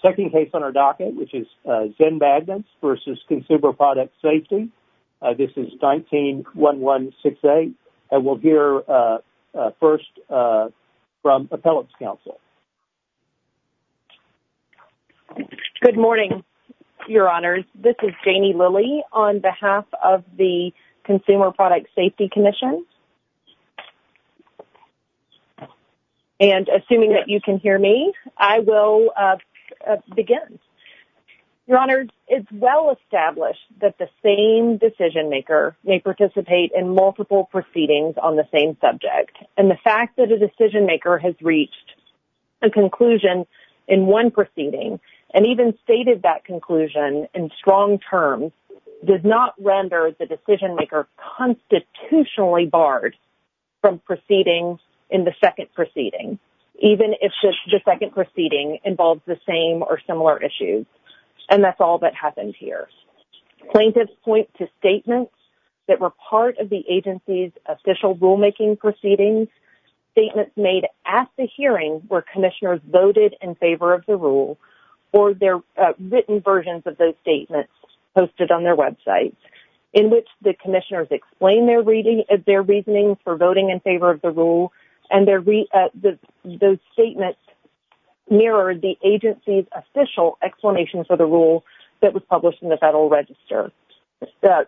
Second case on our docket, which is Zen Magnets v. Consumer Product Safety. This is 19-1168, and we'll hear first from Appellate's Counsel. Good morning, Your Honors. This is Janie Lilly on behalf of the Consumer Product Safety Commission. And assuming that you can hear me, I will begin. Your Honors, it's well established that the same decision-maker may participate in multiple proceedings on the same subject. And the fact that a decision-maker has reached a conclusion in one proceeding and even stated that conclusion in strong terms does not render the decision-maker constitutionally barred from proceeding in the second proceeding, even if the second proceeding involves the same or similar issues. And that's all that happens here. Plaintiffs point to statements that were part of the agency's official rulemaking proceedings, statements made at the hearing where commissioners voted in favor of the rule, or their written versions of those statements posted on their websites, in which the commissioners explain their reasoning for voting in favor of the rule, and those statements mirrored the agency's official explanation for the rule that was published in the Federal Register. The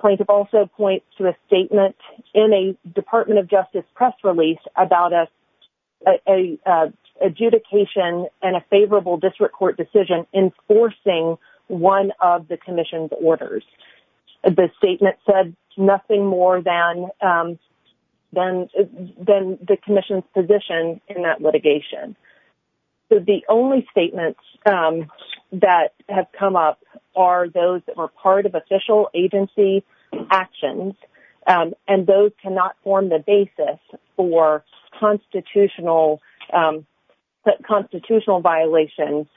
plaintiff also points to a statement in a Department of Justice press release about an adjudication and a favorable district court decision enforcing one of the commission's orders. The statement said nothing more than the commission's position in that litigation. So the only statements that have come up are those that were part of official agency actions, and those cannot form the basis for constitutional violation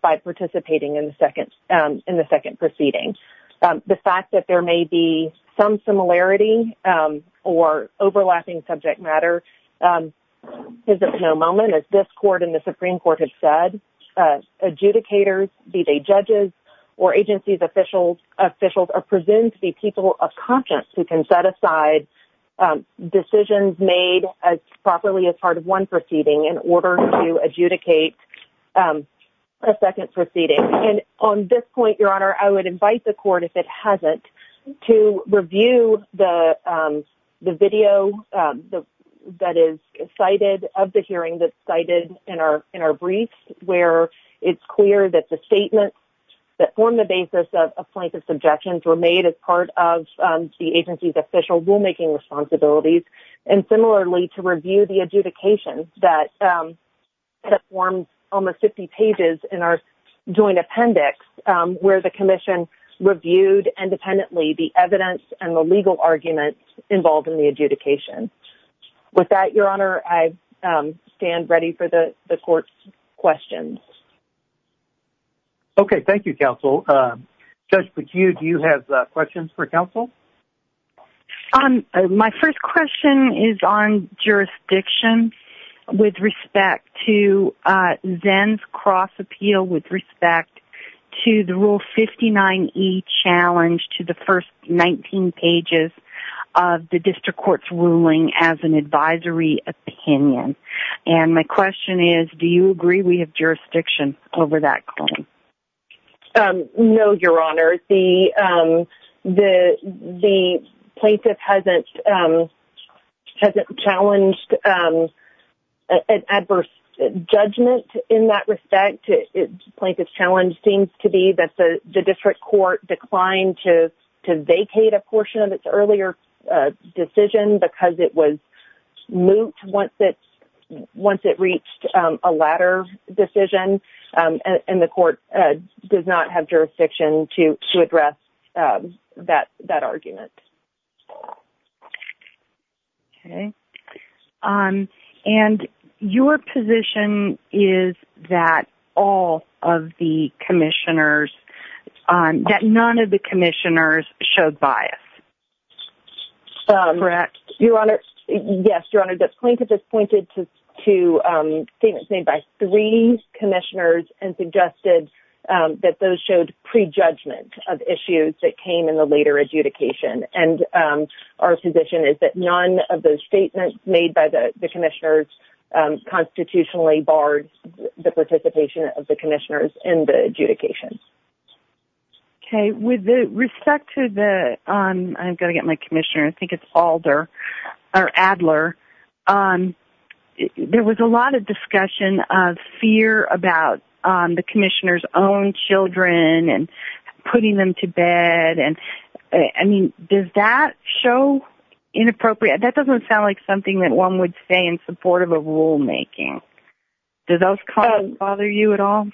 by participating in the second proceeding. The fact that there may be some similarity or overlapping subject matter is at no moment, as this court and the Supreme Court have said, adjudicators, be they judges or agency's officials are presumed to be people of conscience who can set aside decisions made as properly as part of one proceeding in order to adjudicate a second proceeding. And on this point, Your Honor, I would invite the court, if it hasn't, to review the video that is cited of the hearing that's cited in our brief, where it's clear that the statements that form the basis of a plaintiff's objections were made as part of the agency's official rulemaking responsibilities, and similarly to review the adjudication that forms almost 50 pages in our joint appendix where the commission reviewed independently the evidence and the legal arguments involved in the adjudication. With that, Your Honor, I stand ready for the court's questions. Okay. Thank you, counsel. Judge McHugh, do you have questions for counsel? My first question is on jurisdiction with respect to Zenn's cross appeal with respect to the Rule 59e challenge to the first 19 pages of the district court's ruling as an advisory opinion, and my question is, do you agree we have jurisdiction over that claim? No, Your Honor. The plaintiff hasn't challenged an adverse judgment in that respect. The plaintiff's challenge seems to be that the district court declined to vacate a portion of its earlier decision because it was moot once it reached a latter decision, and the court does not have jurisdiction to address that argument. Okay. And your position is that all of the commissioners, that none of the commissioners showed bias. Correct. Your Honor, yes, Your Honor, the plaintiff has pointed to statements made by three commissioners and suggested that those showed prejudgment of issues that came in the later adjudication, and our position is that none of those statements made by the commissioners constitutionally barred the participation of the commissioners in the adjudication. Okay. With respect to the... I'm going to get my commissioner. I think it's Alder or Adler. There was a lot of discussion of fear about the commissioner's own children and putting them to bed, and, I mean, does that show inappropriate? That doesn't sound like something that one would say in support of a rulemaking. Does those comments bother you at all?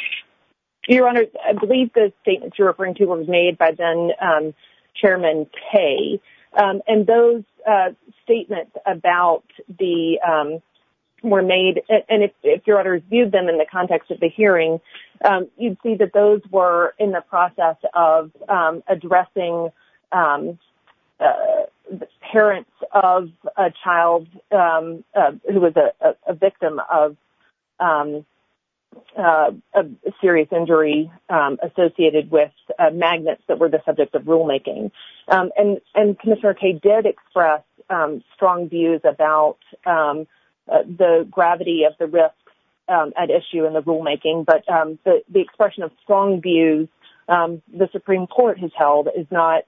Your Honor, I believe the statements you're referring to were made by then Chairman Kaye, and those statements about the... were made, and if Your Honor viewed them in the context of the hearing, you'd see that those were in the process of addressing parents of a child who was a victim of a serious injury associated with magnets that were the subject of rulemaking, and Commissioner Kaye did express strong views about the gravity of the risk at issue in the rulemaking, but the expression of strong views the Supreme Court has held is not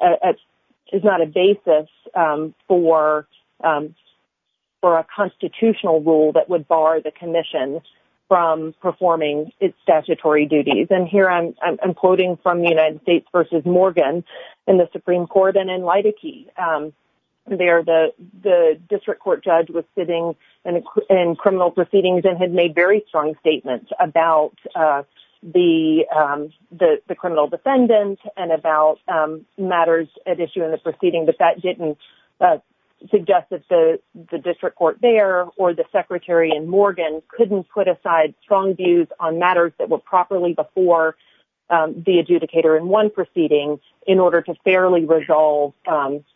a basis for a constitutional rule that would bar the commission from performing its statutory duties. And here I'm quoting from the United States v. Morgan in the Supreme Court and in Lydickey, where the district court judge was sitting in criminal proceedings and had made very strong statements about the criminal defendant and about matters at issue in the proceeding, but that didn't suggest that the district court there or the secretary in Morgan couldn't put aside strong views on matters that were properly before the adjudicator in one proceeding in order to fairly resolve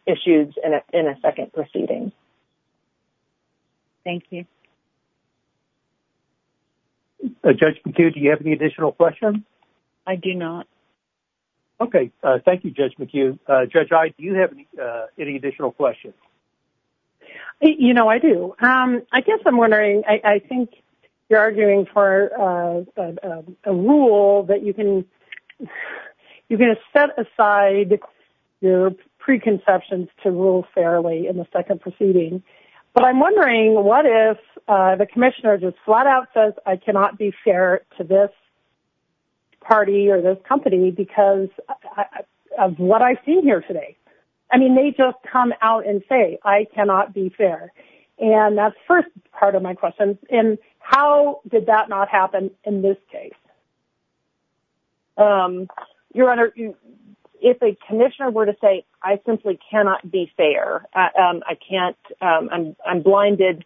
issues in a second proceeding. Thank you. Judge McHugh, do you have any additional questions? I do not. Okay. Thank you, Judge McHugh. Judge Iye, do you have any additional questions? You know, I do. I guess I'm wondering, I think you're arguing for a rule that you can... You're going to set aside your preconceptions to rule fairly in the second proceeding, but I'm wondering what if the commissioner just flat out says, I cannot be fair to this party or this company because of what I've seen here today. I mean, they just come out and say, I cannot be fair. And that's the first part of my question. And how did that not happen in this case? Your Honor, if a commissioner were to say, I simply cannot be fair, I can't, I'm blinded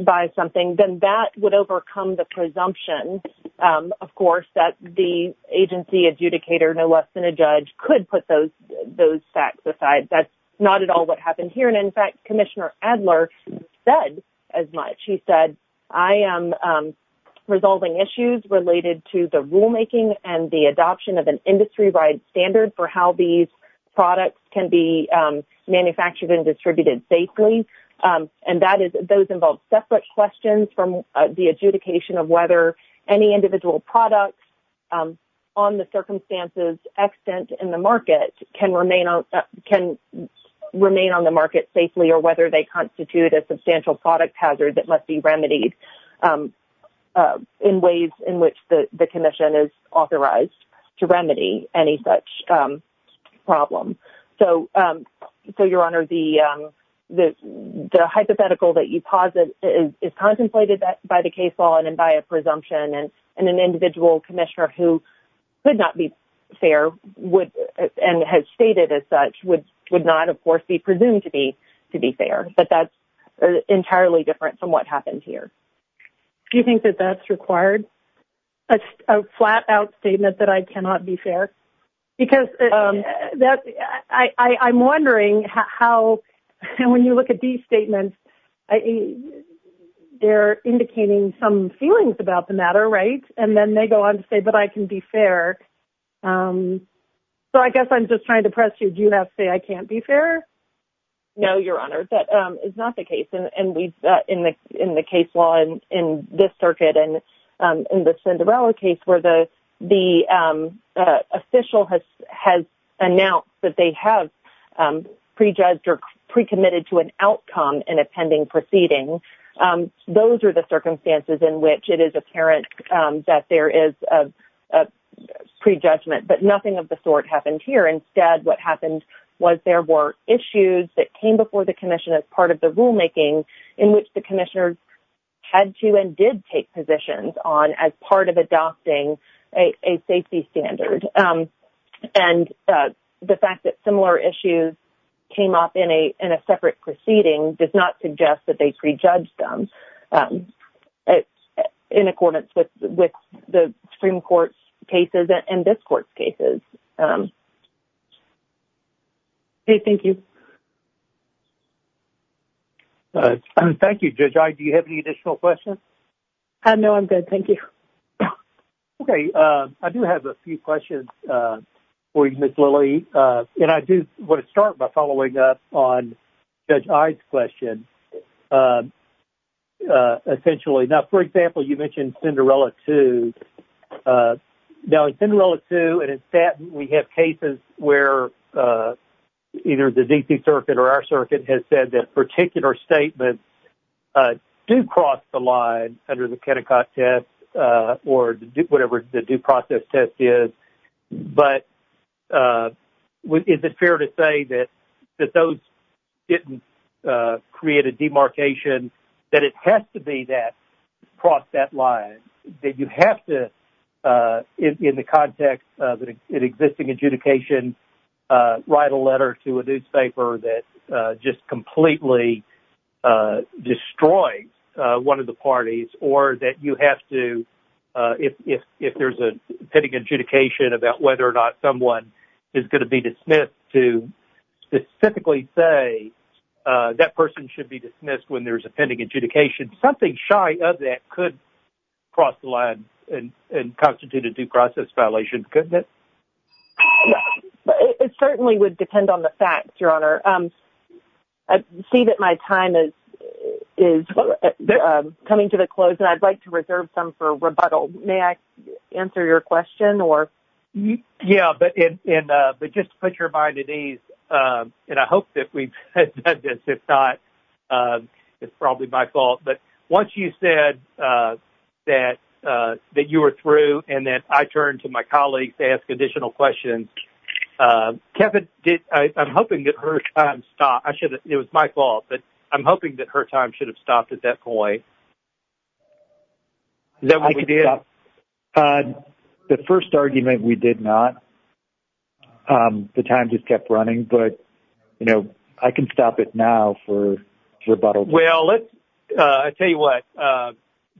by something, then that would overcome the presumption, of course, that the agency adjudicator, no less than a judge, could put those facts aside. That's not at all what happened here. And in fact, Commissioner Adler said as much. She said, I am resolving issues related to the rulemaking and the adoption of an industry-wide standard for how these products can be manufactured and distributed safely, and that is, those involve separate questions from the adjudication of whether any individual products on the circumstances extant in the market can remain on the market safely or whether they constitute a substantial product hazard that must be remedied in ways in which the commission is authorized to remedy any such problem. So, Your Honor, the hypothetical that you posit is contemplated by the case law and by a presumption, and an individual commissioner who could not be fair and has stated as such would not, of course, be presumed to be fair. But that's entirely different from what happened here. Do you think that that's required? A flat-out statement that I cannot be fair? Because I'm wondering how, and when you look at these statements, they're indicating some feelings about the matter, right? And then they go on to say, but I can be fair. So, I guess I'm just trying to press you. Do you have to say I can't be fair? No, Your Honor, that is not the case. And we've, in the case law in this circuit and in the Cinderella case where the official has announced that they have prejudged or pre-committed to an outcome in a pending proceeding, those are the circumstances in which it is apparent that there is a prejudgment. But nothing of the sort happened here. Instead, what happened was there were issues that came before the commission as part of the rulemaking in which the commissioners had to and did take positions on as part of adopting a safety standard. And the fact that similar issues came up in a separate proceeding does not suggest that they prejudged them. In accordance with the Supreme Court's cases and this court's cases. Okay, thank you. Thank you, Judge Ide. Do you have any additional questions? No, I'm good. Thank you. Okay, I do have a few questions for you, Ms. Lilly. And I do want to start by following up on Judge Ide's question. Essentially, now for example, you mentioned Cinderella 2. Now in Cinderella 2 and in Stanton, we have cases where either the D.C. Circuit or our circuit has said that particular statements do cross the line under the Kennecott test or whatever the due process test is. But is it fair to say that those didn't create a demarcation, that it has to be that, cross that line? That you have to, in the context of an existing adjudication, write a letter to a newspaper that just completely destroyed one of the parties? Or that you have to, if there's a pending adjudication about whether or not someone is going to be dismissed, to specifically say that person should be dismissed when there's a pending adjudication? Something shy of that could cross the line and constitute a due process violation, couldn't it? It certainly would depend on the facts, Your Honor. I see that my time is coming to a close, and I'd like to reserve some for rebuttal. May I answer your question? Yeah, but just to put your mind at ease, and I hope that we've said this. If not, it's probably my fault. But once you said that you were through and that I turn to my colleagues to ask additional questions, Kevin, I'm hoping that her time stopped. It was my fault, but I'm hoping that her time should have stopped at that point. The first argument, we did not. The time just kept running, but, you know, I can stop it now for rebuttal. Well, I'll tell you what,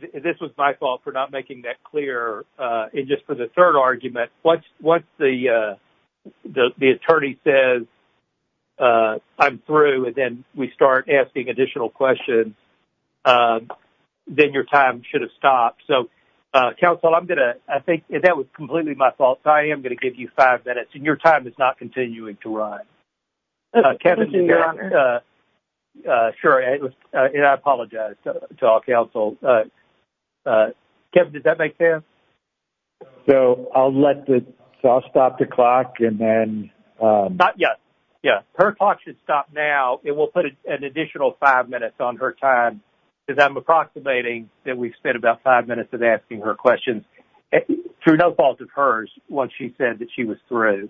this was my fault for not making that clear. And just for the third argument, once the attorney says, I'm through, and then we start asking additional questions, then your time should have stopped. So, counsel, I'm going to, I think that was completely my fault, so I am going to give you five minutes. And your time is not continuing to run. Kevin, did that? Sure, and I apologize to all counsel. Kevin, did that make sense? So, I'll let the, so I'll stop the clock and then. Not yet, yeah, her clock should stop now. It will put an additional five minutes on her time, because I'm approximating that we've spent about five minutes of asking her questions, through no fault of hers, once she said that she was through.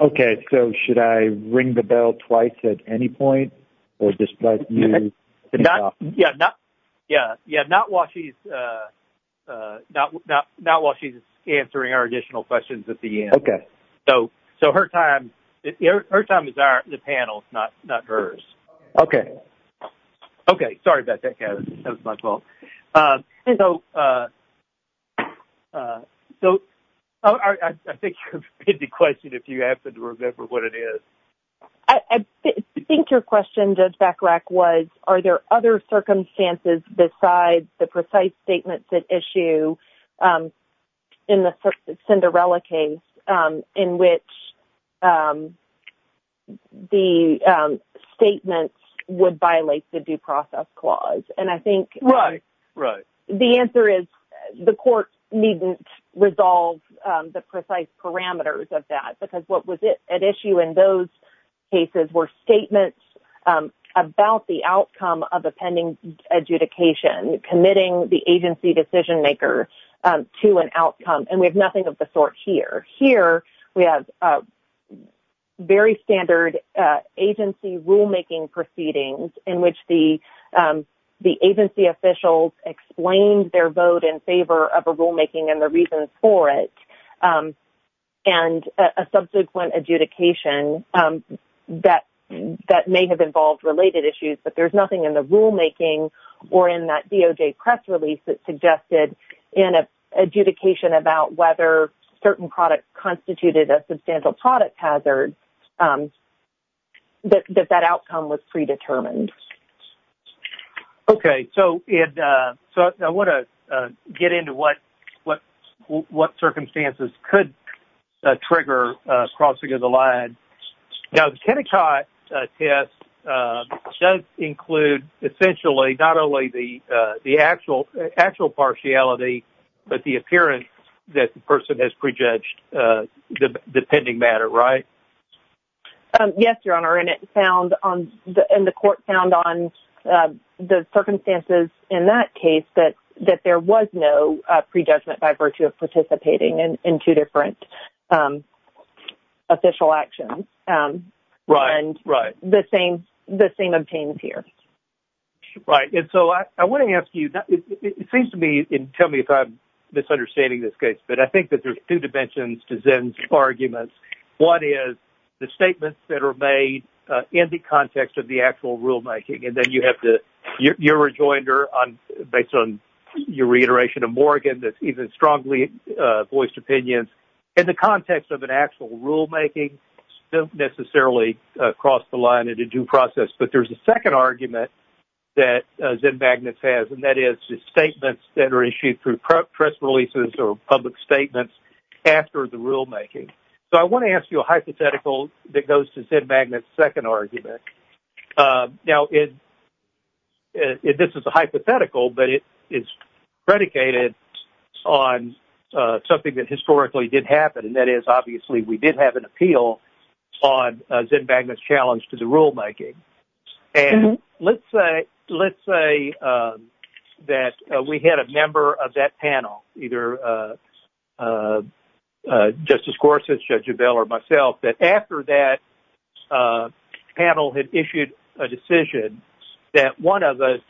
Okay, so should I ring the bell twice at any point, or just let you? Yeah, not, yeah, not while she's, not while she's answering our additional questions at the end, so her time, her time is our, the panel's, not hers. Okay. Okay, sorry about that, Kevin, that was my fault. And so, so, I think you've hit the question, if you happen to remember what it is. I think your question, Judge Bechrach, was, are there other circumstances besides the precise statements at issue, in the Cinderella case, in which the statements would violate the due process clause? And I think. Right, right. The answer is, the court needn't resolve the precise parameters of that, because what was at issue in those cases were statements about the outcome of a pending adjudication, committing the agency decision-maker to an outcome, and we have nothing of the sort here. Here, we have very standard agency rulemaking proceedings, in which the agency officials explained their vote in favor of a rulemaking and the reasons for it, and a subsequent adjudication that may have involved related issues, but there's nothing in the rulemaking or in that DOJ press release that suggested an adjudication about whether certain products constituted a substantial product hazard, that that outcome was predetermined. Okay. So, Ed, I want to get into what circumstances could trigger crossing of the line. Now, the Kennecott test does include, essentially, not only the actual partiality, but the appearance that the person has prejudged the pending matter, right? Yes, Your Honor, and it found on the-and the court found on the circumstances in that case that there was no prejudgment by virtue of participating in two different official actions. Right. Right. And the same-the same obtains here. Right. And so, I want to ask you-it seems to me, and tell me if I'm misunderstanding this case, but I think that there's two dimensions to Zen's arguments. One is the statements that are made in the context of the actual rulemaking, and then you have the-your rejoinder on-based on your reiteration of Morgan, that's even strongly voiced opinions in the context of an actual rulemaking, don't necessarily cross the line in a due process. But there's a second argument that Zen Magnus has, and that is the statements that are issued through press releases or public statements after the rulemaking. So, I want to ask you a hypothetical that goes to Zen Magnus' second argument. Now, it-this is a hypothetical, but it is predicated on something that historically did happen, and that is, obviously, we did have an appeal on Zen Magnus' challenge to the rulemaking. And let's say-let's say that we had a member of that panel, either Justice Gorsuch, Judge Abell, or myself, that after that panel had issued a decision that one of us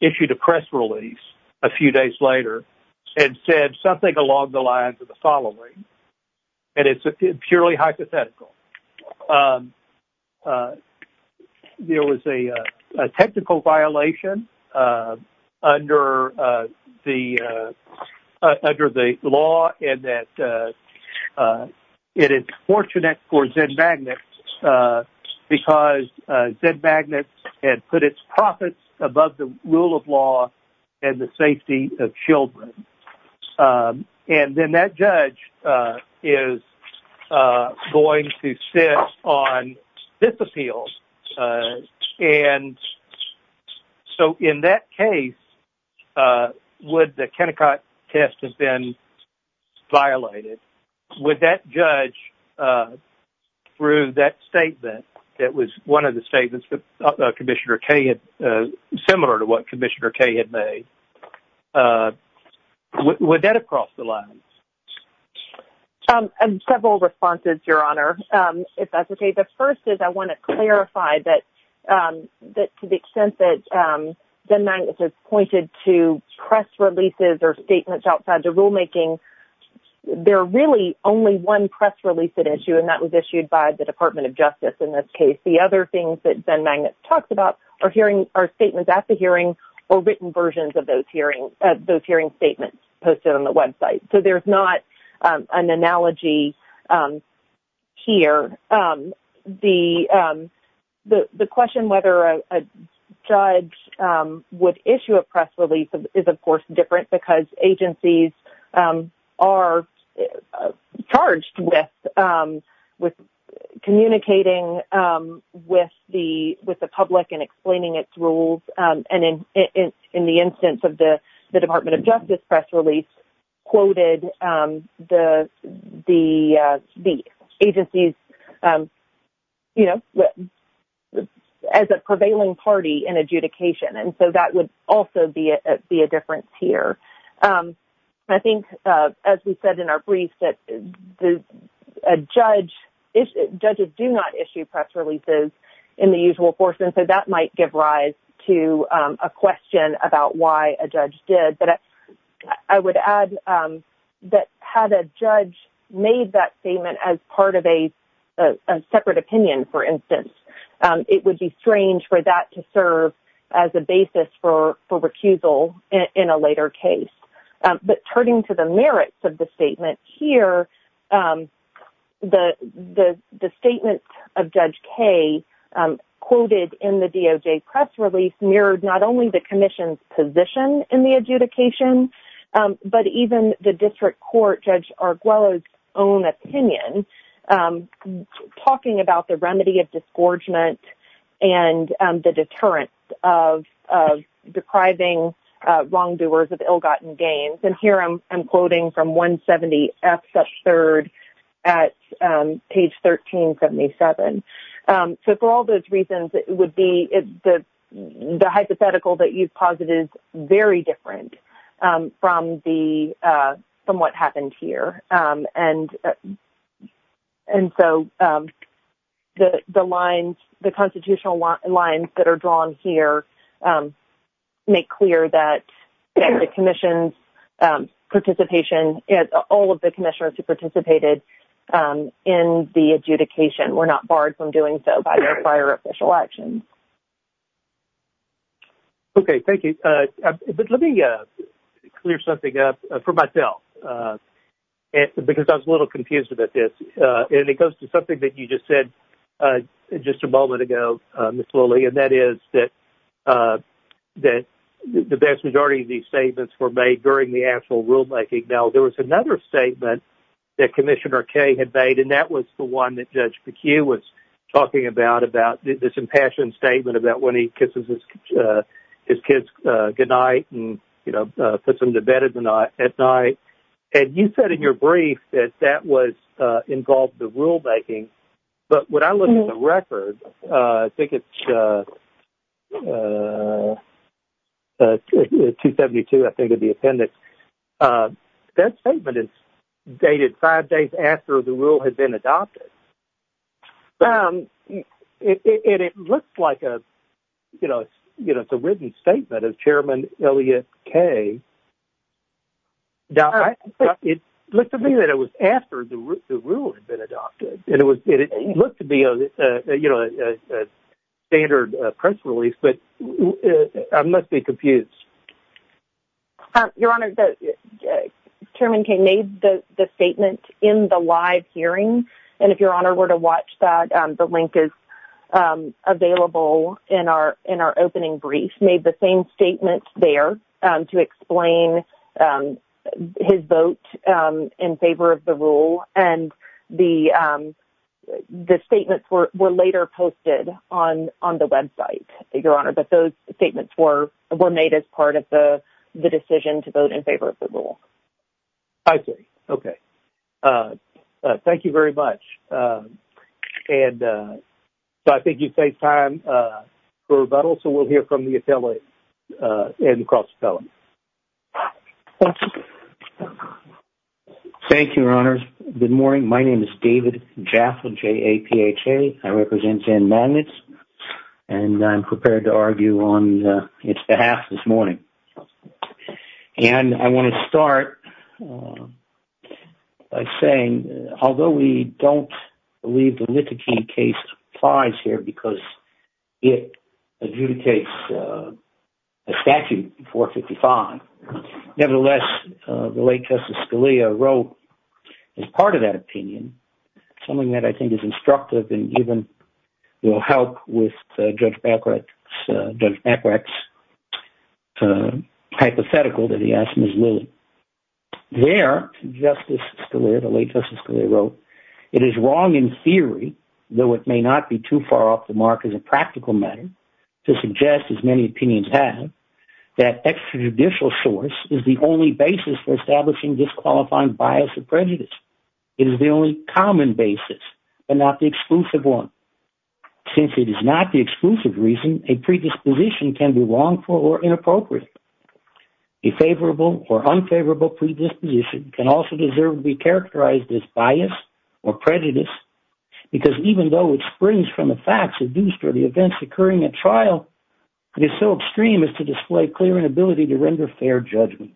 issued a press release a few days later and said something along the lines of the following, and it's a purely hypothetical. There was a technical violation under the-under the law, and that it is fortunate for Zen Magnus because Zen Magnus had put its profits above the rule of law and the safety of children. And then that judge is going to sit on this appeal. And so, in that case, would the Kennecott test have been violated? Would that judge, through that statement that was one of the statements that Commissioner Kaye had-similar to what Commissioner Kaye had made, would that have crossed the line? And several responses, Your Honor, if that's okay. The first is I want to clarify that-that to the extent that Zen Magnus has pointed to press releases or statements outside the rulemaking, there are really only one press release at issue, and that was issued by the Department of Justice in this case. The other things that Zen Magnus talks about are hearing-are statements at the hearing or written versions of those hearing-those hearing statements posted on the website. So, there's not an analogy here. The-the question whether a judge would issue a press release is, of course, different because agencies are charged with communicating with the public and explaining its rules, and in the instance of the Department of Justice press release quoted the agencies, you know, as a prevailing party in adjudication. And so, that would also be a difference here. I think, as we said in our brief, that a judge-judges do not issue press releases in the usual course, and so that might give rise to a question about why a judge did. But I would add that had a judge made that statement as part of a separate opinion, for instance, it would be strange for that to serve as a basis for recusal in a later case. But turning to the merits of the statement here, the statement of Judge Kay quoted in the DOJ press release mirrored not only the commission's position in the adjudication, but even the Committee of Disgorgement and the deterrence of depriving wrongdoers of ill-gotten gains. And here, I'm quoting from 170F-3 at page 1377. So, for all those reasons, it would be the hypothetical that you've posited is very different from the-from what happened here. And so, the lines-the constitutional lines that are drawn here make clear that the commission's participation-all of the commissioners who participated in the adjudication were not barred from doing so by their prior official actions. Okay. Thank you. But let me clear something up for myself, because I was a little confused about this. And it goes to something that you just said just a moment ago, Ms. Lilley, and that is that the vast majority of these statements were made during the actual rulemaking. Now, there was another statement that Commissioner Kay had made, and that was the one that Judge McHugh was talking about, about this impassioned statement about when he kisses his kids goodnight and, you know, puts them to bed at night. And you said in your brief that that was-involved the rulemaking. But when I look at the record, I think it's 272, I think, of the appendix. That statement is dated five days after the rule had been adopted. And it looks like a-you know, it's a written statement of Chairman Elliot Kay. It looked to me that it was after the rule had been adopted. And it looked to be a, you know, standard press release. But I must be confused. Your Honor, Chairman Kay made the statement in the live hearing. And if Your Honor were to watch that, the link is available in our opening brief. He made the same statement there to explain his vote in favor of the rule. And the statements were later posted on the website, Your Honor. But those statements were made as part of the decision to vote in favor of the rule. I see. Okay. Thank you very much. And so, I think you saved time for rebuttal. So, we'll hear from the appellate and the cross appellate. Thank you, Your Honors. Good morning. My name is David Jaffa, J-A-P-H-A. I represent Jan Magnits, and I'm prepared to argue on its behalf this morning. And I want to start by saying, although we don't believe the Littikin case applies here because it adjudicates a statute 455, nevertheless, the late Justice Scalia wrote as part of that opinion, something that I think is instructive and even will help with Judge Mackrak's hypothetical that he asked Ms. Lilly. There, Justice Scalia, the late Justice Scalia wrote, it is wrong in theory, though it may not be too far off the mark as a practical matter, to suggest, as many opinions have, that extrajudicial source is the only basis for establishing disqualifying bias or prejudice. It is the only common basis and not the exclusive one. Since it is not the exclusive reason, a predisposition can be wrongful or inappropriate. A favorable or unfavorable predisposition can also deserve to be characterized as bias or prejudice, because even though it springs from the facts of the events occurring at trial, it is so extreme as to display clear inability to render fair judgment.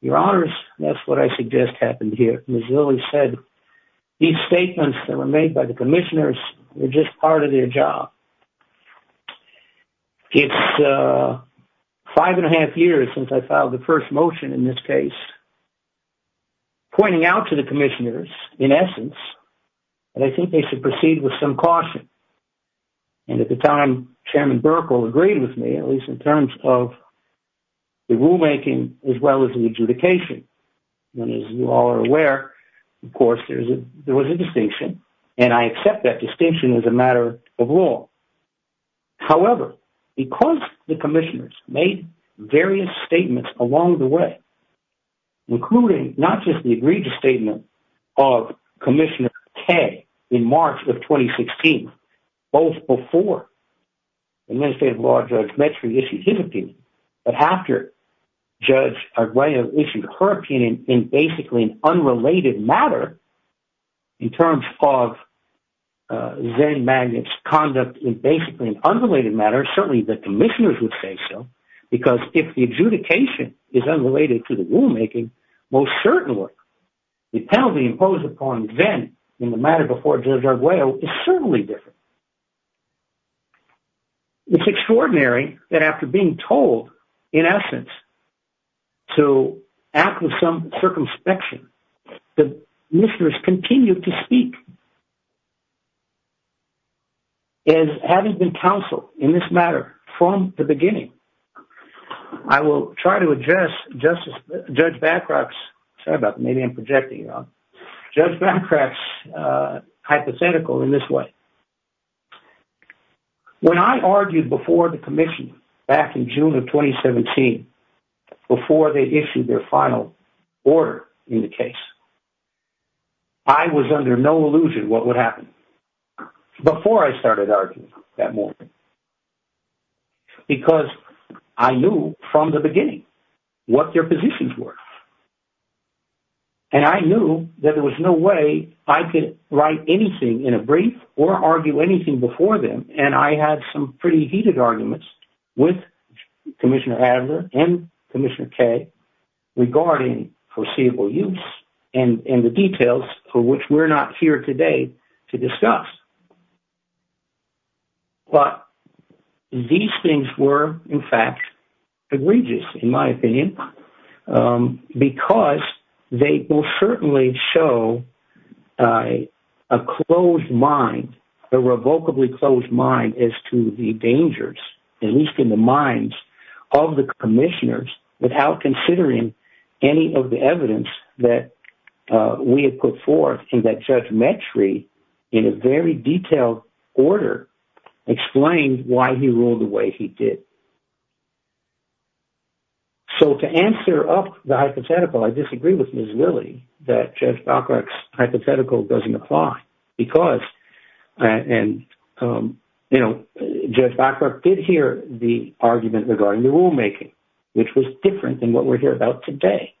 Your Honors, that's what I suggest happened here. Ms. Lilly said these statements that were made by the commissioners were just part of their job. It's five and a half years since I filed the first motion in this case, pointing out to the commissioners, in essence, that I think they should proceed with some caution. And at the time, Chairman Burkle agreed with me, at least in terms of the rulemaking, as well as the adjudication. And as you all are aware, of course, there was a distinction, and I accept that distinction as a matter of law. However, because the commissioners made various statements along the way, including not just the egregious statement of Commissioner Kaye in March of 2016, both before Administrative Law Judge Metcalfe issued his opinion, but after Judge Arguello issued her opinion in basically an unrelated matter in terms of Zen Magnet's conduct in basically an unrelated matter, certainly the commissioners would say so, because if the adjudication is unrelated to the rulemaking, most certainly the penalty imposed upon Zen in the matter before Judge Arguello is certainly different. It's extraordinary that after being told, in essence, to act with some circumspection, the commissioners continued to speak. And having been counseled in this matter from the beginning, I will try to address Justice Judge Bacroft's, sorry about that, maybe I'm projecting it wrong, Judge Bacroft's hypothetical in this way. When I argued before the commission back in June of 2017, before they issued their final order in the case, I was under no illusion what would happen before I started arguing that morning, because I knew from the beginning what their positions were. And I knew that there was no way I could write anything in a brief or argue anything before them. And I had some pretty heated arguments with Commissioner Adler and Commissioner Kay regarding foreseeable use and the details for which we're not here today to discuss. But these things were, in fact, egregious, in my opinion, because they will certainly show a closed mind, a revocably closed mind as to the dangers, at least in the minds of the commissioners, without considering any of the evidence that we had put forth and that Judge Mettri, in a very detailed order, explained why he ruled the way he did. So to answer up the hypothetical, I disagree with Ms. Lilley that Judge Bacroft's hypothetical doesn't apply, because, and, you know, Judge Bacroft did hear the argument regarding the rulemaking, which was different than what we're here about today.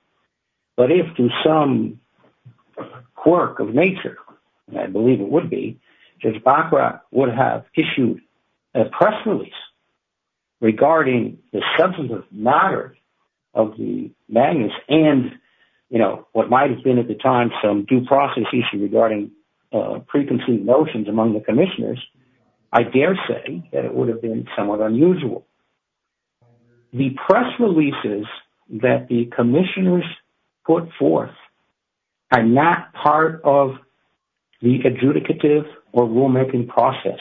But if, through some quirk of nature, I believe it would be, Judge Bacroft would have issued a press release regarding the substantive matter of the Magnus and, you know, what might have been at the time some due process issue regarding preconceived notions among the commissioners, I dare say that it would have been somewhat unusual. The press releases that the commissioners put forth are not part of the adjudicative or rulemaking process.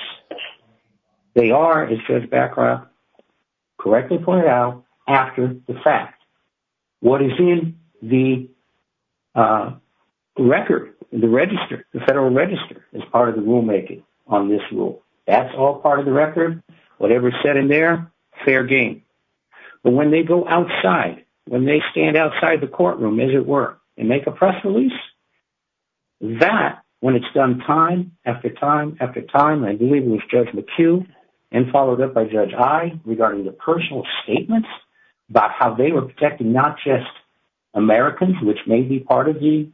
They are, as Judge Bacroft correctly pointed out, after the fact. What is in the record, the register, the federal register, is part of the rulemaking on this rule. That's all part of the record. Whatever's said in there, fair game. But when they go outside, when they stand outside the courtroom, as it were, and make a press release, that, when it's done time after time after time, I believe it was Judge McHugh, and followed up by Judge I, regarding the personal statements about how they were protecting not just Americans, which may be part of the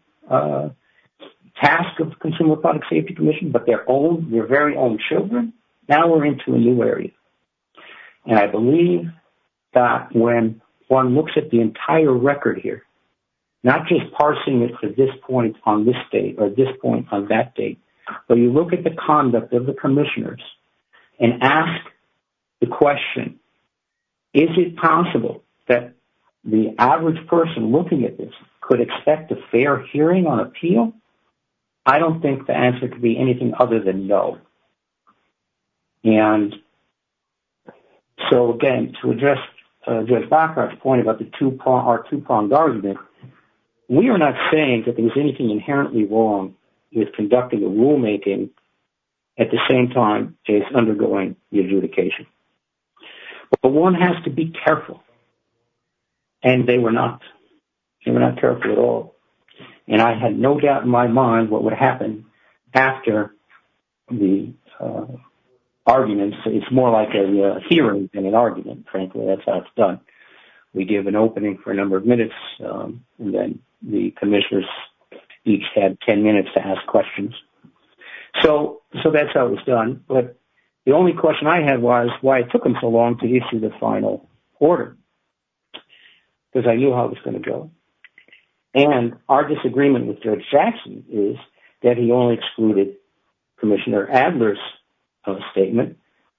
task of the Consumer Product Safety Commission, but their own, their very own children, now we're into a new area. And I believe that when one looks at the entire record here, not just parsing it to this point on this date or this point on that date, but you look at the conduct of the commissioners and ask the question, is it possible that the average person looking at this could expect a fair hearing on appeal? I don't think the answer could be anything other than no. And so, again, to address Judge Bacow's point about the two-pronged argument, we are not saying that there's anything inherently wrong with conducting the rulemaking at the same time as undergoing the adjudication. But one has to be careful, and they were not. They were not careful at all. And I had no doubt in my mind what would happen after the arguments. It's more like a hearing than an argument, frankly. That's how it's done. We give an opening for a number of minutes, and then the commissioners each had 10 minutes to ask questions. So that's how it was done. But the only question I had was why it took them so long to issue the final order, because I knew how it was going to go. And our disagreement with Judge Bacow is that Judge Bacow has formally excluded Commissioner Adler's statement.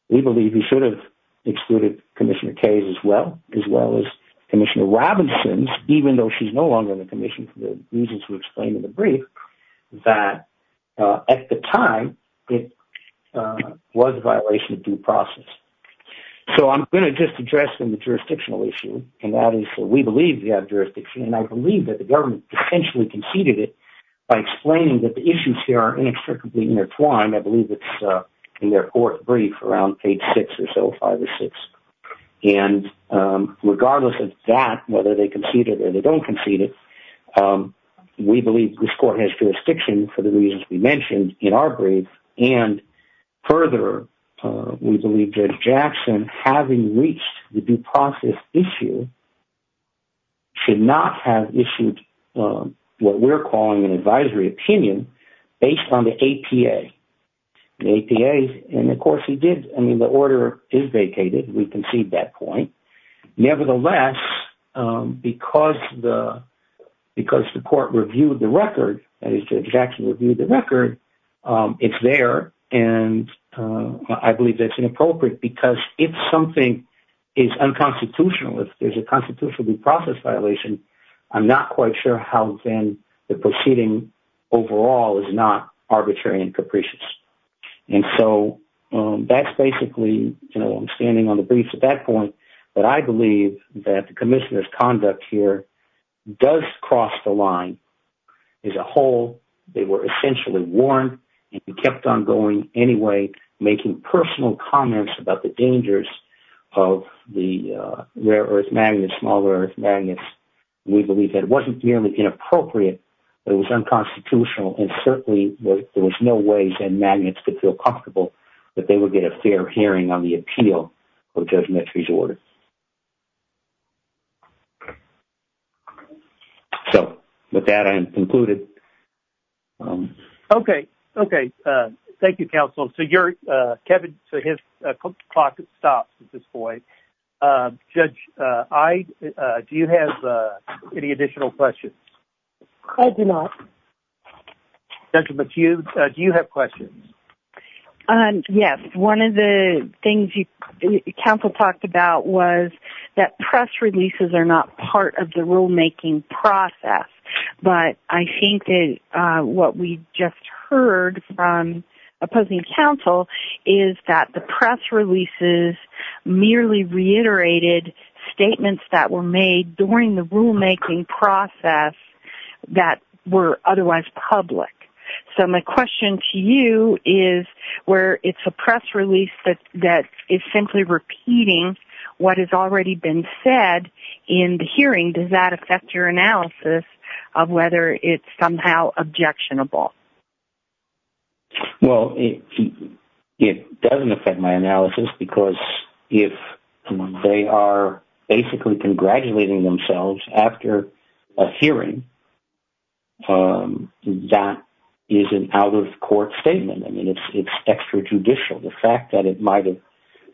We believe he should have excluded Commissioner Kaye's as well, as well as Commissioner Robinson's, even though she's no longer in the commission for the reasons we explained in the brief, that at the time, it was a violation of due process. So I'm going to just address the jurisdictional issue, and that is, we believe we have jurisdiction, and I believe that the are inextricably intertwined. I believe it's in their fourth brief around page six or so, five or six. And regardless of that, whether they concede it or they don't concede it, we believe this court has jurisdiction for the reasons we mentioned in our brief. And further, we believe Judge Jackson, having reached the due process issue, should not have issued what we're calling an advisory opinion based on the APA. The APA, and of course he did, I mean, the order is vacated, we concede that point. Nevertheless, because the court reviewed the record, that is, Judge Jackson reviewed the record, it's there, and I believe that's inappropriate, because if something is unconstitutional, if there's a constitutionally processed violation, I'm not quite sure how then the proceeding overall is not arbitrary and capricious. And so that's basically, you know, I'm standing on the briefs at that point, but I believe that the commissioner's conduct here does cross the line as a whole. They were essentially warned and kept on going anyway, making personal comments about the dangers of the rare-earth magnets, small-earth magnets. We believe that it wasn't merely inappropriate, it was unconstitutional, and certainly there was no ways that magnets could feel comfortable that they would get a fair hearing on the appeal of Judge Mettri's order. So with that, I'm concluded. Okay. Okay. Thank you, counsel. So your, Kevin, so his clock stops at this point. Judge, do you have any additional questions? I do not. Judge McHugh, do you have questions? Yes. One of the things you, counsel talked about was that press releases are not part of the what we just heard from opposing counsel is that the press releases merely reiterated statements that were made during the rulemaking process that were otherwise public. So my question to you is, where it's a press release that is simply repeating what has already been said in the hearing, does that affect your analysis of whether it's somehow objectionable? Well, it doesn't affect my analysis because if they are basically congratulating themselves after a hearing, that is an out-of-court statement. I mean, it's extrajudicial. The fact that it might have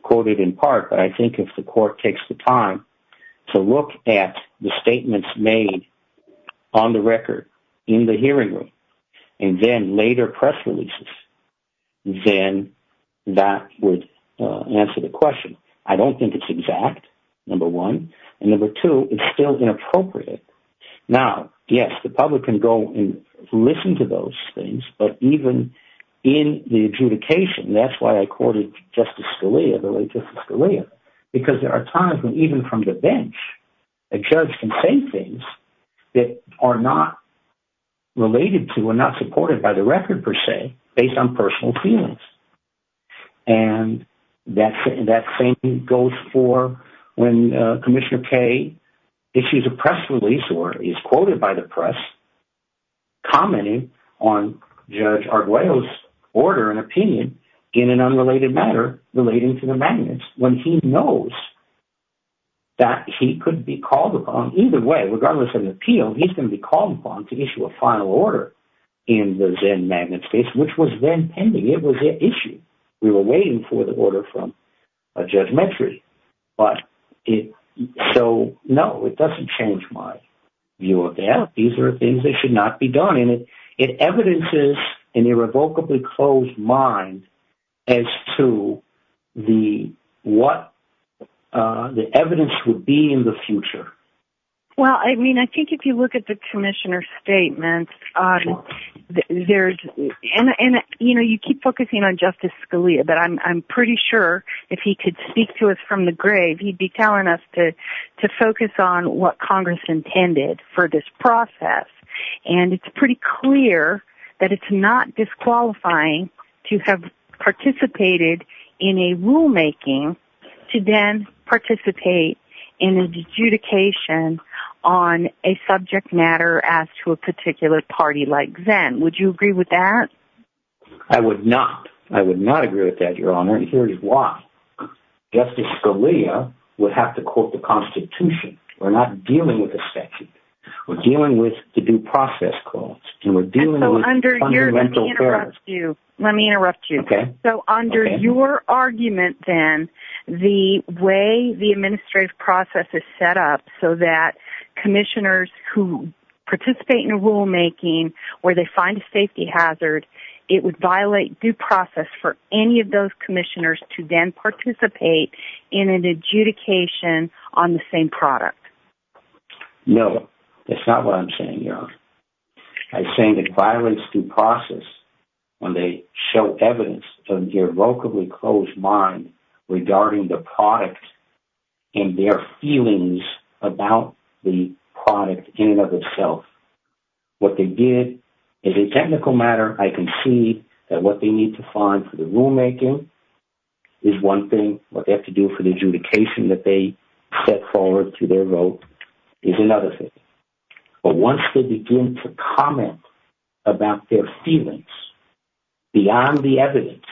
quoted in part, but I think if the court takes the time to look at the statements made on the record in the hearing room and then later press releases, then that would answer the question. I don't think it's exact, number one, and number two, it's still inappropriate. Now, yes, the public can go and listen to those things, but even in the adjudication, that's why I quoted Justice Scalia, the late Justice Scalia, because there are times when even from the bench, a judge can say things that are not related to or not supported by the record, per se, based on personal feelings. And that same goes for when Commissioner Kaye issues a press release or is quoted by the press commenting on Judge Arguello's order and opinion in an unrelated matter relating to the magnets, when he knows that he could be called upon, either way, regardless of the appeal, he's going to be called upon to issue a final order in the Zen Magnet case, which was then pending. It was an issue. We were waiting for the order from a judgmentary. So, no, it doesn't change my view of the app. These are things that should not be mined as to what the evidence would be in the future. Well, I mean, I think if you look at the Commissioner's statement, you know, you keep focusing on Justice Scalia, but I'm pretty sure if he could speak to us from the grave, he'd be telling us to focus on what Congress intended for this process. And it's pretty clear that it's not disqualifying to have participated in a rulemaking to then participate in an adjudication on a subject matter as to a particular party like Zen. Would you agree with that? I would not. I would not agree with that, Your Honor. And here's why. Justice Scalia would have to quote the Constitution. We're not dealing with a statute. We're dealing with the due process codes. And we're dealing with fundamental errors. Let me interrupt you. So, under your argument, then, the way the administrative process is set up so that Commissioners who participate in a rulemaking, where they find a safety hazard, it would violate due process for any of those Commissioners to then participate in an adjudication on the same product. No, that's not what I'm saying, Your Honor. I'm saying that violates due process when they show evidence of the irrevocably closed mind regarding the product and their feelings about the product in and of itself. What they did is a technical matter. I can see that what they need to find for the rulemaking is one thing. What they have to do for the adjudication that they set forward to their vote is another thing. But once they begin to comment about their feelings beyond the evidence,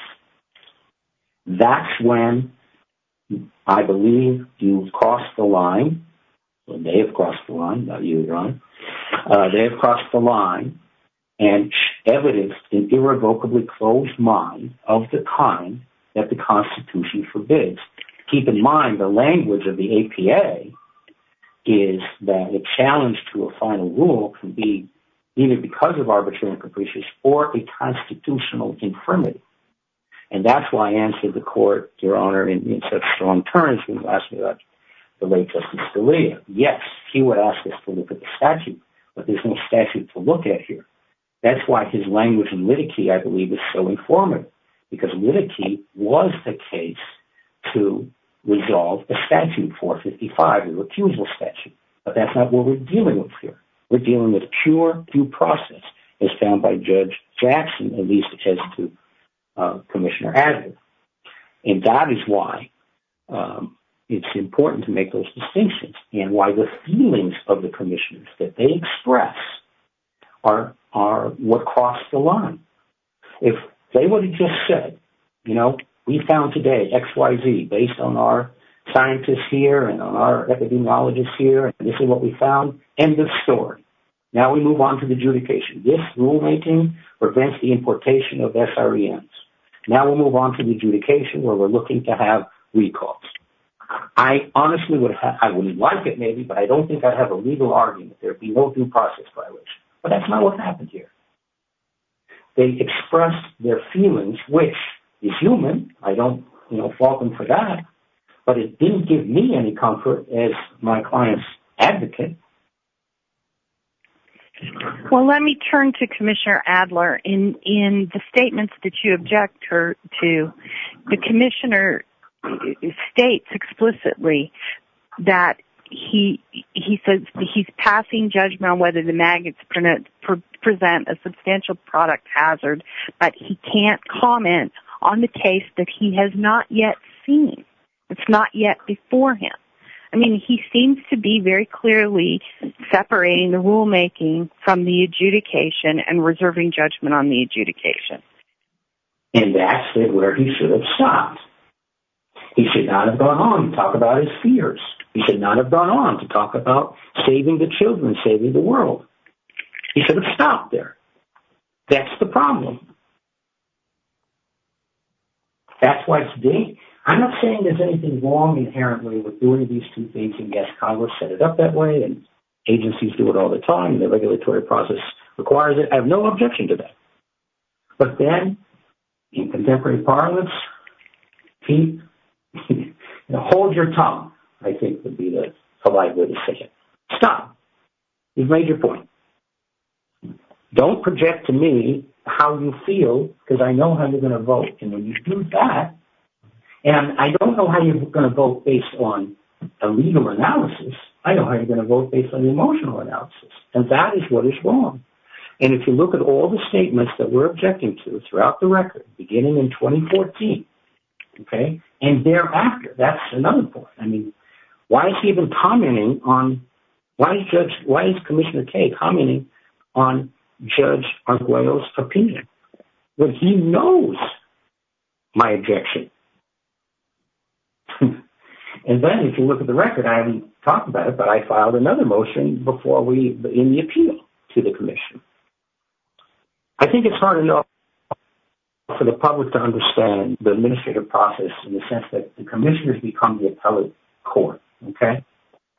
that's when, I believe, you've crossed the line. Well, they have crossed the line, not you, Your Honor. They have crossed the line and evidenced an irrevocably closed mind of the kind that the Constitution forbids. Keep in mind, the language of the APA is that a challenge to a final rule can be either because of arbitrary and capricious or a constitutional infirmity. And that's why I answered the Court, Your Honor, in such strong terms when you asked me about the late Justice Scalia. Yes, he would ask us to look at the statute, but there's no statute to look at here. That's why his language and litigy, I believe, is so formative because litigy was the case to resolve the statute 455, the recusal statute. But that's not what we're dealing with here. We're dealing with pure due process as found by Judge Jackson, at least as to Commissioner Adler. And that is why it's important to make those distinctions and why the feelings of the commissioners that they express are what crossed the line. If they would have just said, you know, we found today X, Y, Z, based on our scientists here and on our epidemiologists here, and this is what we found, end of story. Now we move on to the adjudication. This rulemaking prevents the importation of SREMs. Now we move on to the adjudication where we're looking to have recalls. I honestly would have, I would like it maybe, but I don't think I'd have a legal argument there if we won't do process violation. But that's not what happened here. They expressed their feelings, which is human. I don't, you know, fault them for that, but it didn't give me any comfort as my client's advocate. Well, let me turn to Commissioner Adler. In the statements that you object her to, the commissioner states explicitly that he says he's passing judgment on whether the maggots present a substantial product hazard, but he can't comment on the case that he has not yet seen. It's not yet before him. I mean, he seems to be very clearly separating the rulemaking from the adjudication and reserving judgment on the adjudication. And that's where he should have stopped. He should not have gone on to talk about his fears. He should not have gone on to talk about saving the children, saving the world. He should have stopped there. That's the problem. That's why today, I'm not saying there's anything wrong inherently with doing these two things and guess Congress set it up that way and agencies do it all the time and the regulatory process requires it. I have no objection to that. But then in contemporary parlance, keep, hold your tongue, I think would be the polite way to say it. Stop. You've made your point. Don't project to me how you feel because I know how you're going to vote. And when you do that, and I don't know how you're going to vote based on a legal analysis, I know how you're going to vote based on the emotional analysis. And that is what is wrong. And if you look at all the statements that we're objecting to throughout the record, beginning in 2014, okay, and thereafter, that's another point. I mean, why is he even commenting on, why is Commissioner Kaye commenting on Judge Arguello's opinion? Well, he knows my objection. And then if you look at the record, I haven't talked about it, but I filed another motion before we...in the appeal to the commission. I think it's hard enough for the public to understand the administrative process in the sense that the commissioners become the appellate court, okay?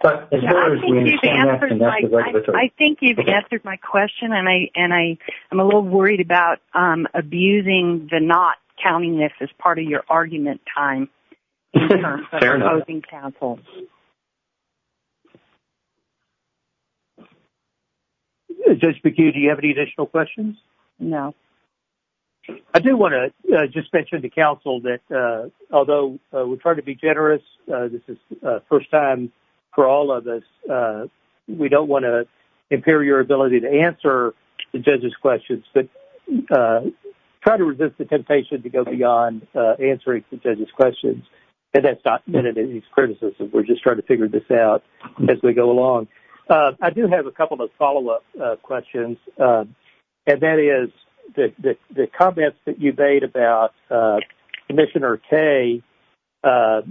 But as far as we understand... I think you've answered my question and I'm a little worried about abusing the not counting this as part of your argument time. Fair enough. Judge McHugh, do you have any additional questions? No. I do want to just mention to counsel that although we try to be generous, this is the first time for all of us. We don't want to impair your ability to answer the judge's questions, but try to resist the temptation to go beyond answering the judge's questions. And that's not meant as any criticism. We're just trying to figure this out as we go along. I do have a couple of follow-up questions, and that is the comments that you made about Commissioner Kaye. Now,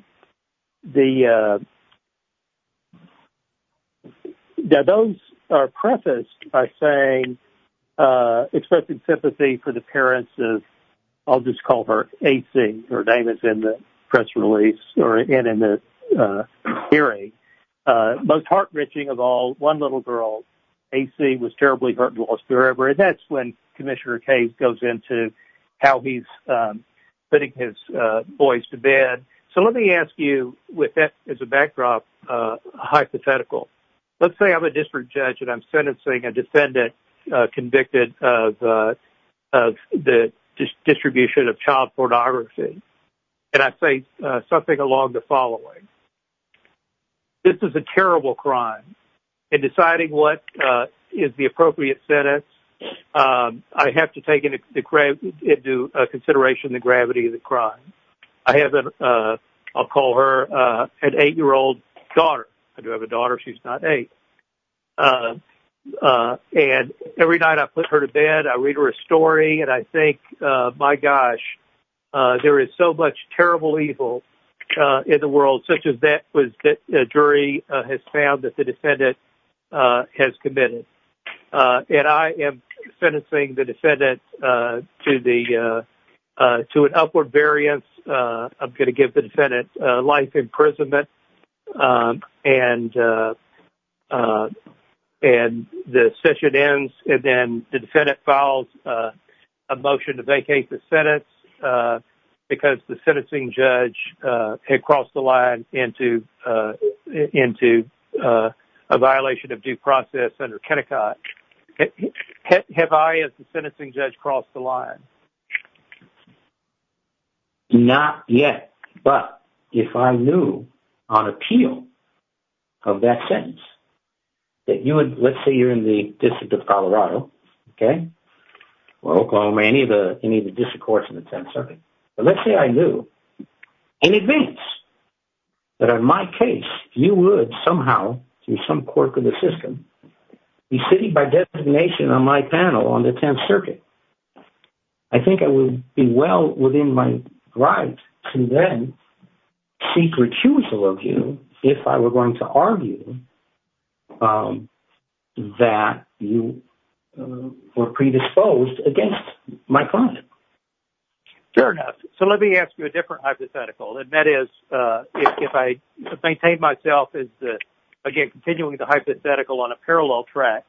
those are prefaced by saying...expressing sympathy for the parents of...I'll just call her AC. Her name is in the press release and in the hearing. Most heart-wrenching of all, one little girl, AC, was terribly hurt and lost forever. And that's when Commissioner Kaye goes into how he's putting his boys to bed. So let me ask you, with that as a backdrop, hypothetical. Let's say I'm a district judge and I'm sentencing a defendant convicted of the distribution of child pornography. And I say something along the following. This is a terrible crime. In deciding what is the appropriate sentence, I have to take into consideration the gravity of the crime. I'll call her an eight-year-old daughter. I do have a daughter. She's not eight. And every night I put her to bed, I read her a story, and I think, my gosh, there is so much terrible evil in the world, such as that was that a jury has found that the defendant has committed. And I am sentencing the defendant to an upward variance. I'm going to give the defendant life imprisonment. And the session ends, and then the defendant files a motion to vacate the sentence because the sentencing judge had crossed the line into a violation of due process under Kennecott. Have I, as the sentencing judge, crossed the line? Not yet. But if I knew on appeal of that sentence that you would, let's say you're in the District of Colorado, okay, or Oklahoma, any of the district courts in the 10th Circuit. But let's say I knew in advance that in my case, you would somehow, through some quirk of the city by designation on my panel on the 10th Circuit, I think I would be well within my right to then seek recusal of you if I were going to argue that you were predisposed against my crime. Fair enough. So let me ask you a different hypothetical. And that is, if I maintain myself as, again, continuing the hypothetical on a parallel track.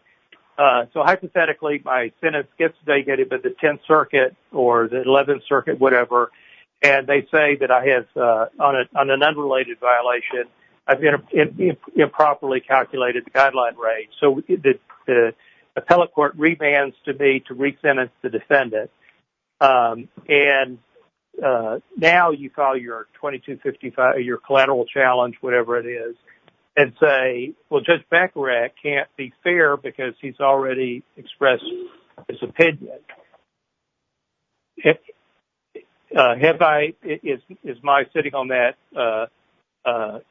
So hypothetically, my sentence gets negated by the 10th Circuit or the 11th Circuit, whatever. And they say that I have, on an unrelated violation, I've improperly calculated the guideline rate. So the appellate court rebans to me to re-sentence the defendant. And now you call your 2255, your collateral challenge, whatever it is, and say, well, Judge Baccarat can't be fair because he's already expressed his opinion. Have I, is my sitting on that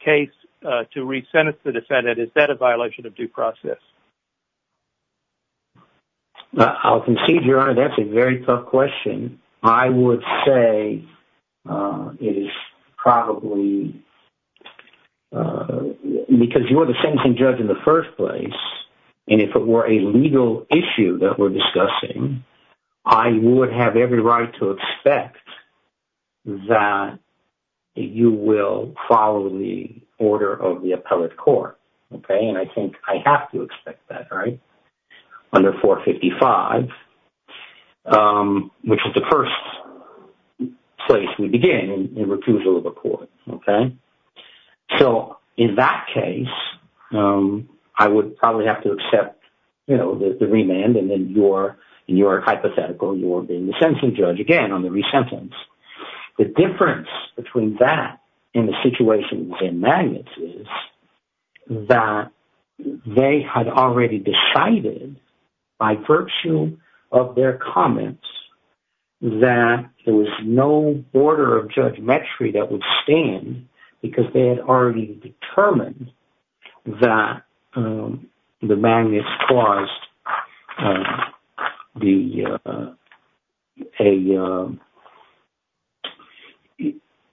case to re-sentence the defendant, is that a violation of due process? I'll concede, Your Honor, that's a very tough question. I would say it is probably because you were the sentencing judge in the first place. And if it were a legal issue that we're discussing, I would have every right to expect that you will follow the order of the court. Under 455, which is the first place we begin in recusal of a court. So in that case, I would probably have to accept the remand. And then you're hypothetical, you're being the sentencing judge again on the re-sentence. The difference between that and the situation with the magnets is that they had already decided by virtue of their comments that there was no border of judgementry that would stand because they had already determined that the magnets caused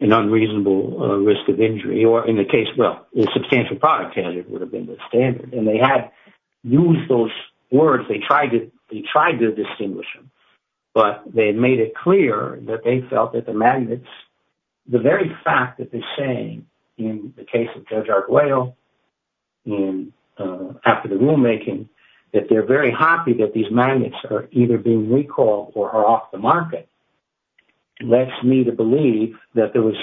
an unreasonable risk of injury or in the case, well, the substantial product hazard would have been the standard. And they had used those words, they tried to distinguish them, but they made it clear that they felt that the magnets, the very fact that they're saying in the case of Judge Whale after the rulemaking, that they're very happy that these magnets are either being recalled or are off the market, led me to believe that there was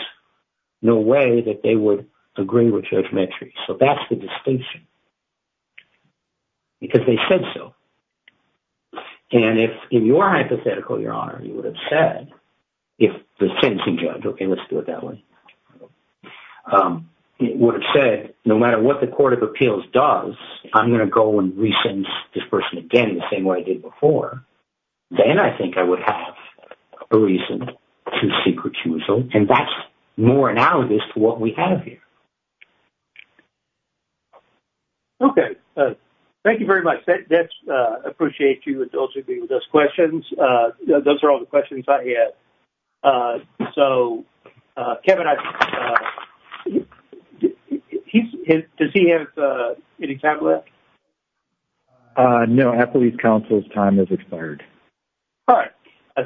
no way that they would agree with judgementry. So that's the distinction because they said so. And if in your hypothetical, Your Honor, you would have said, if the sentencing judge, okay, let's do it that way, he would have said, no matter what the Court of Appeals does, I'm going to go and re-sentence this person again the same way I did before, then I think I would have a reason to seek recusal. And that's more analogous to what we have here. Okay. Thank you very much. I appreciate you with those questions. Those are all the questions I have. So, Kevin, does he have any time left? No. Appellee's counsel's time has expired. All right.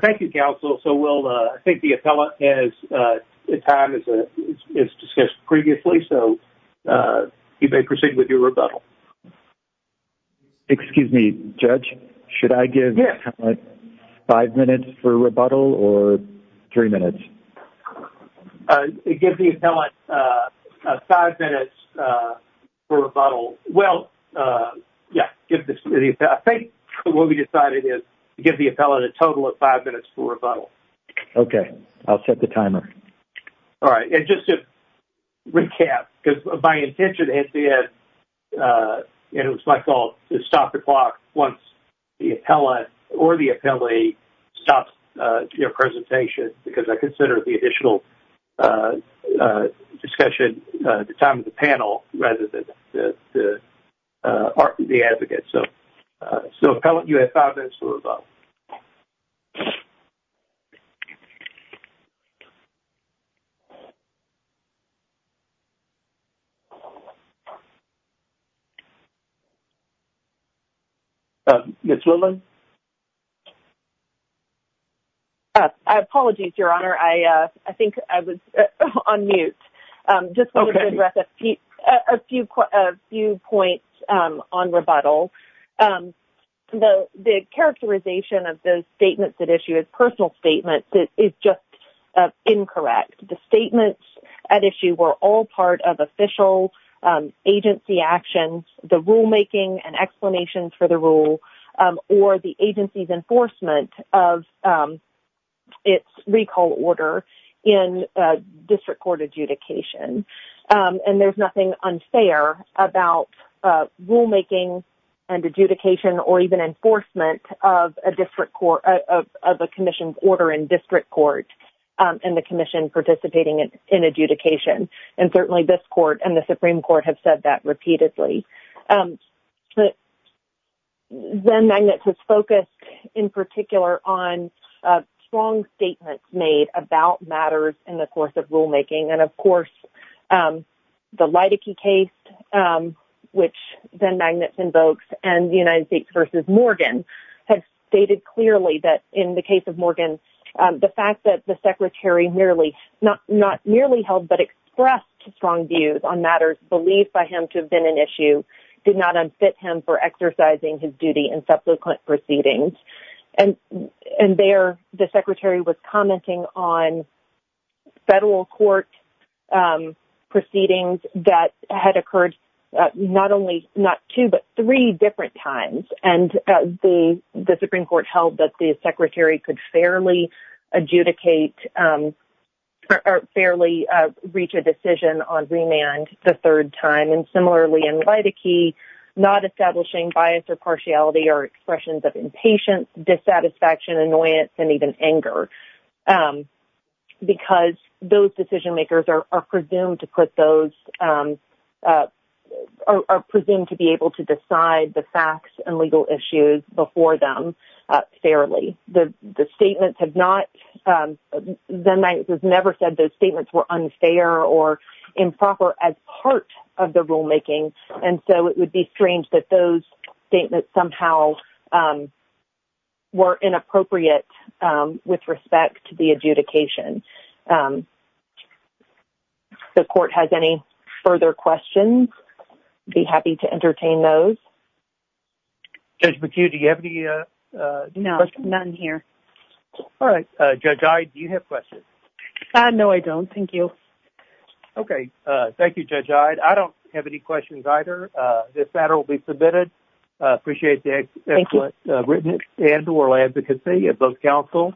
Thank you, counsel. So we'll, I think the appellate has, the time is discussed previously, so you may proceed with your rebuttal. Excuse me, Judge, should I give the appellate five minutes for rebuttal or three minutes? Give the appellate five minutes for rebuttal. Well, yeah, I think what we decided is to give the appellate a total of five minutes for rebuttal. All right. And just to recap, because my intention at the end, and it was my fault, to stop the clock once the appellate or the appellee stops their presentation, because I consider the additional discussion the time of the panel rather than the advocate. So, appellate, you have five minutes for rebuttal. Ms. Willman? I apologize, Your Honor. I think I was on mute. Just wanted to address a few points on rebuttal. The characterization of those statements at issue as personal statements is just incorrect. The statements at issue were all part of official agency actions, the rulemaking and explanations for the rule, or the agency's enforcement of its recall order in district court adjudication. And there's nothing unfair about rulemaking and adjudication or even enforcement of a commission's order in district court and the commission participating in adjudication. And certainly, this court and the Supreme Court have said that repeatedly. Zen Magnets has focused in particular on strong statements made about matters in the course of the Leidecke case, which Zen Magnets invokes, and the United States v. Morgan, have stated clearly that in the case of Morgan, the fact that the Secretary not merely held but expressed strong views on matters believed by him to have been an issue did not unfit him for exercising his duty in subsequent proceedings. And there, the Secretary was commenting on federal court proceedings that had occurred not only not two, but three different times. And the Supreme Court held that the Secretary could fairly adjudicate or fairly reach a decision on remand the third time. And similarly, in Leidecke, not establishing bias or partiality or expressions of impatience, dissatisfaction, annoyance, and even anger, because those decision-makers are presumed to be able to decide the facts and legal issues before them fairly. Zen Magnets has never said those statements were unfair or improper as part of the rulemaking. And so it would be strange that those statements somehow were inappropriate with respect to the adjudication. The court has any further questions? I'd be happy to entertain those. Judge McHugh, do you have any questions? No, none here. All right. Judge Ide, do you have questions? No, I don't. Thank you. Okay. Thank you, Judge Ide. I don't have any questions either. This matter will be submitted. I appreciate the excellent written and oral advocacy of both counsel.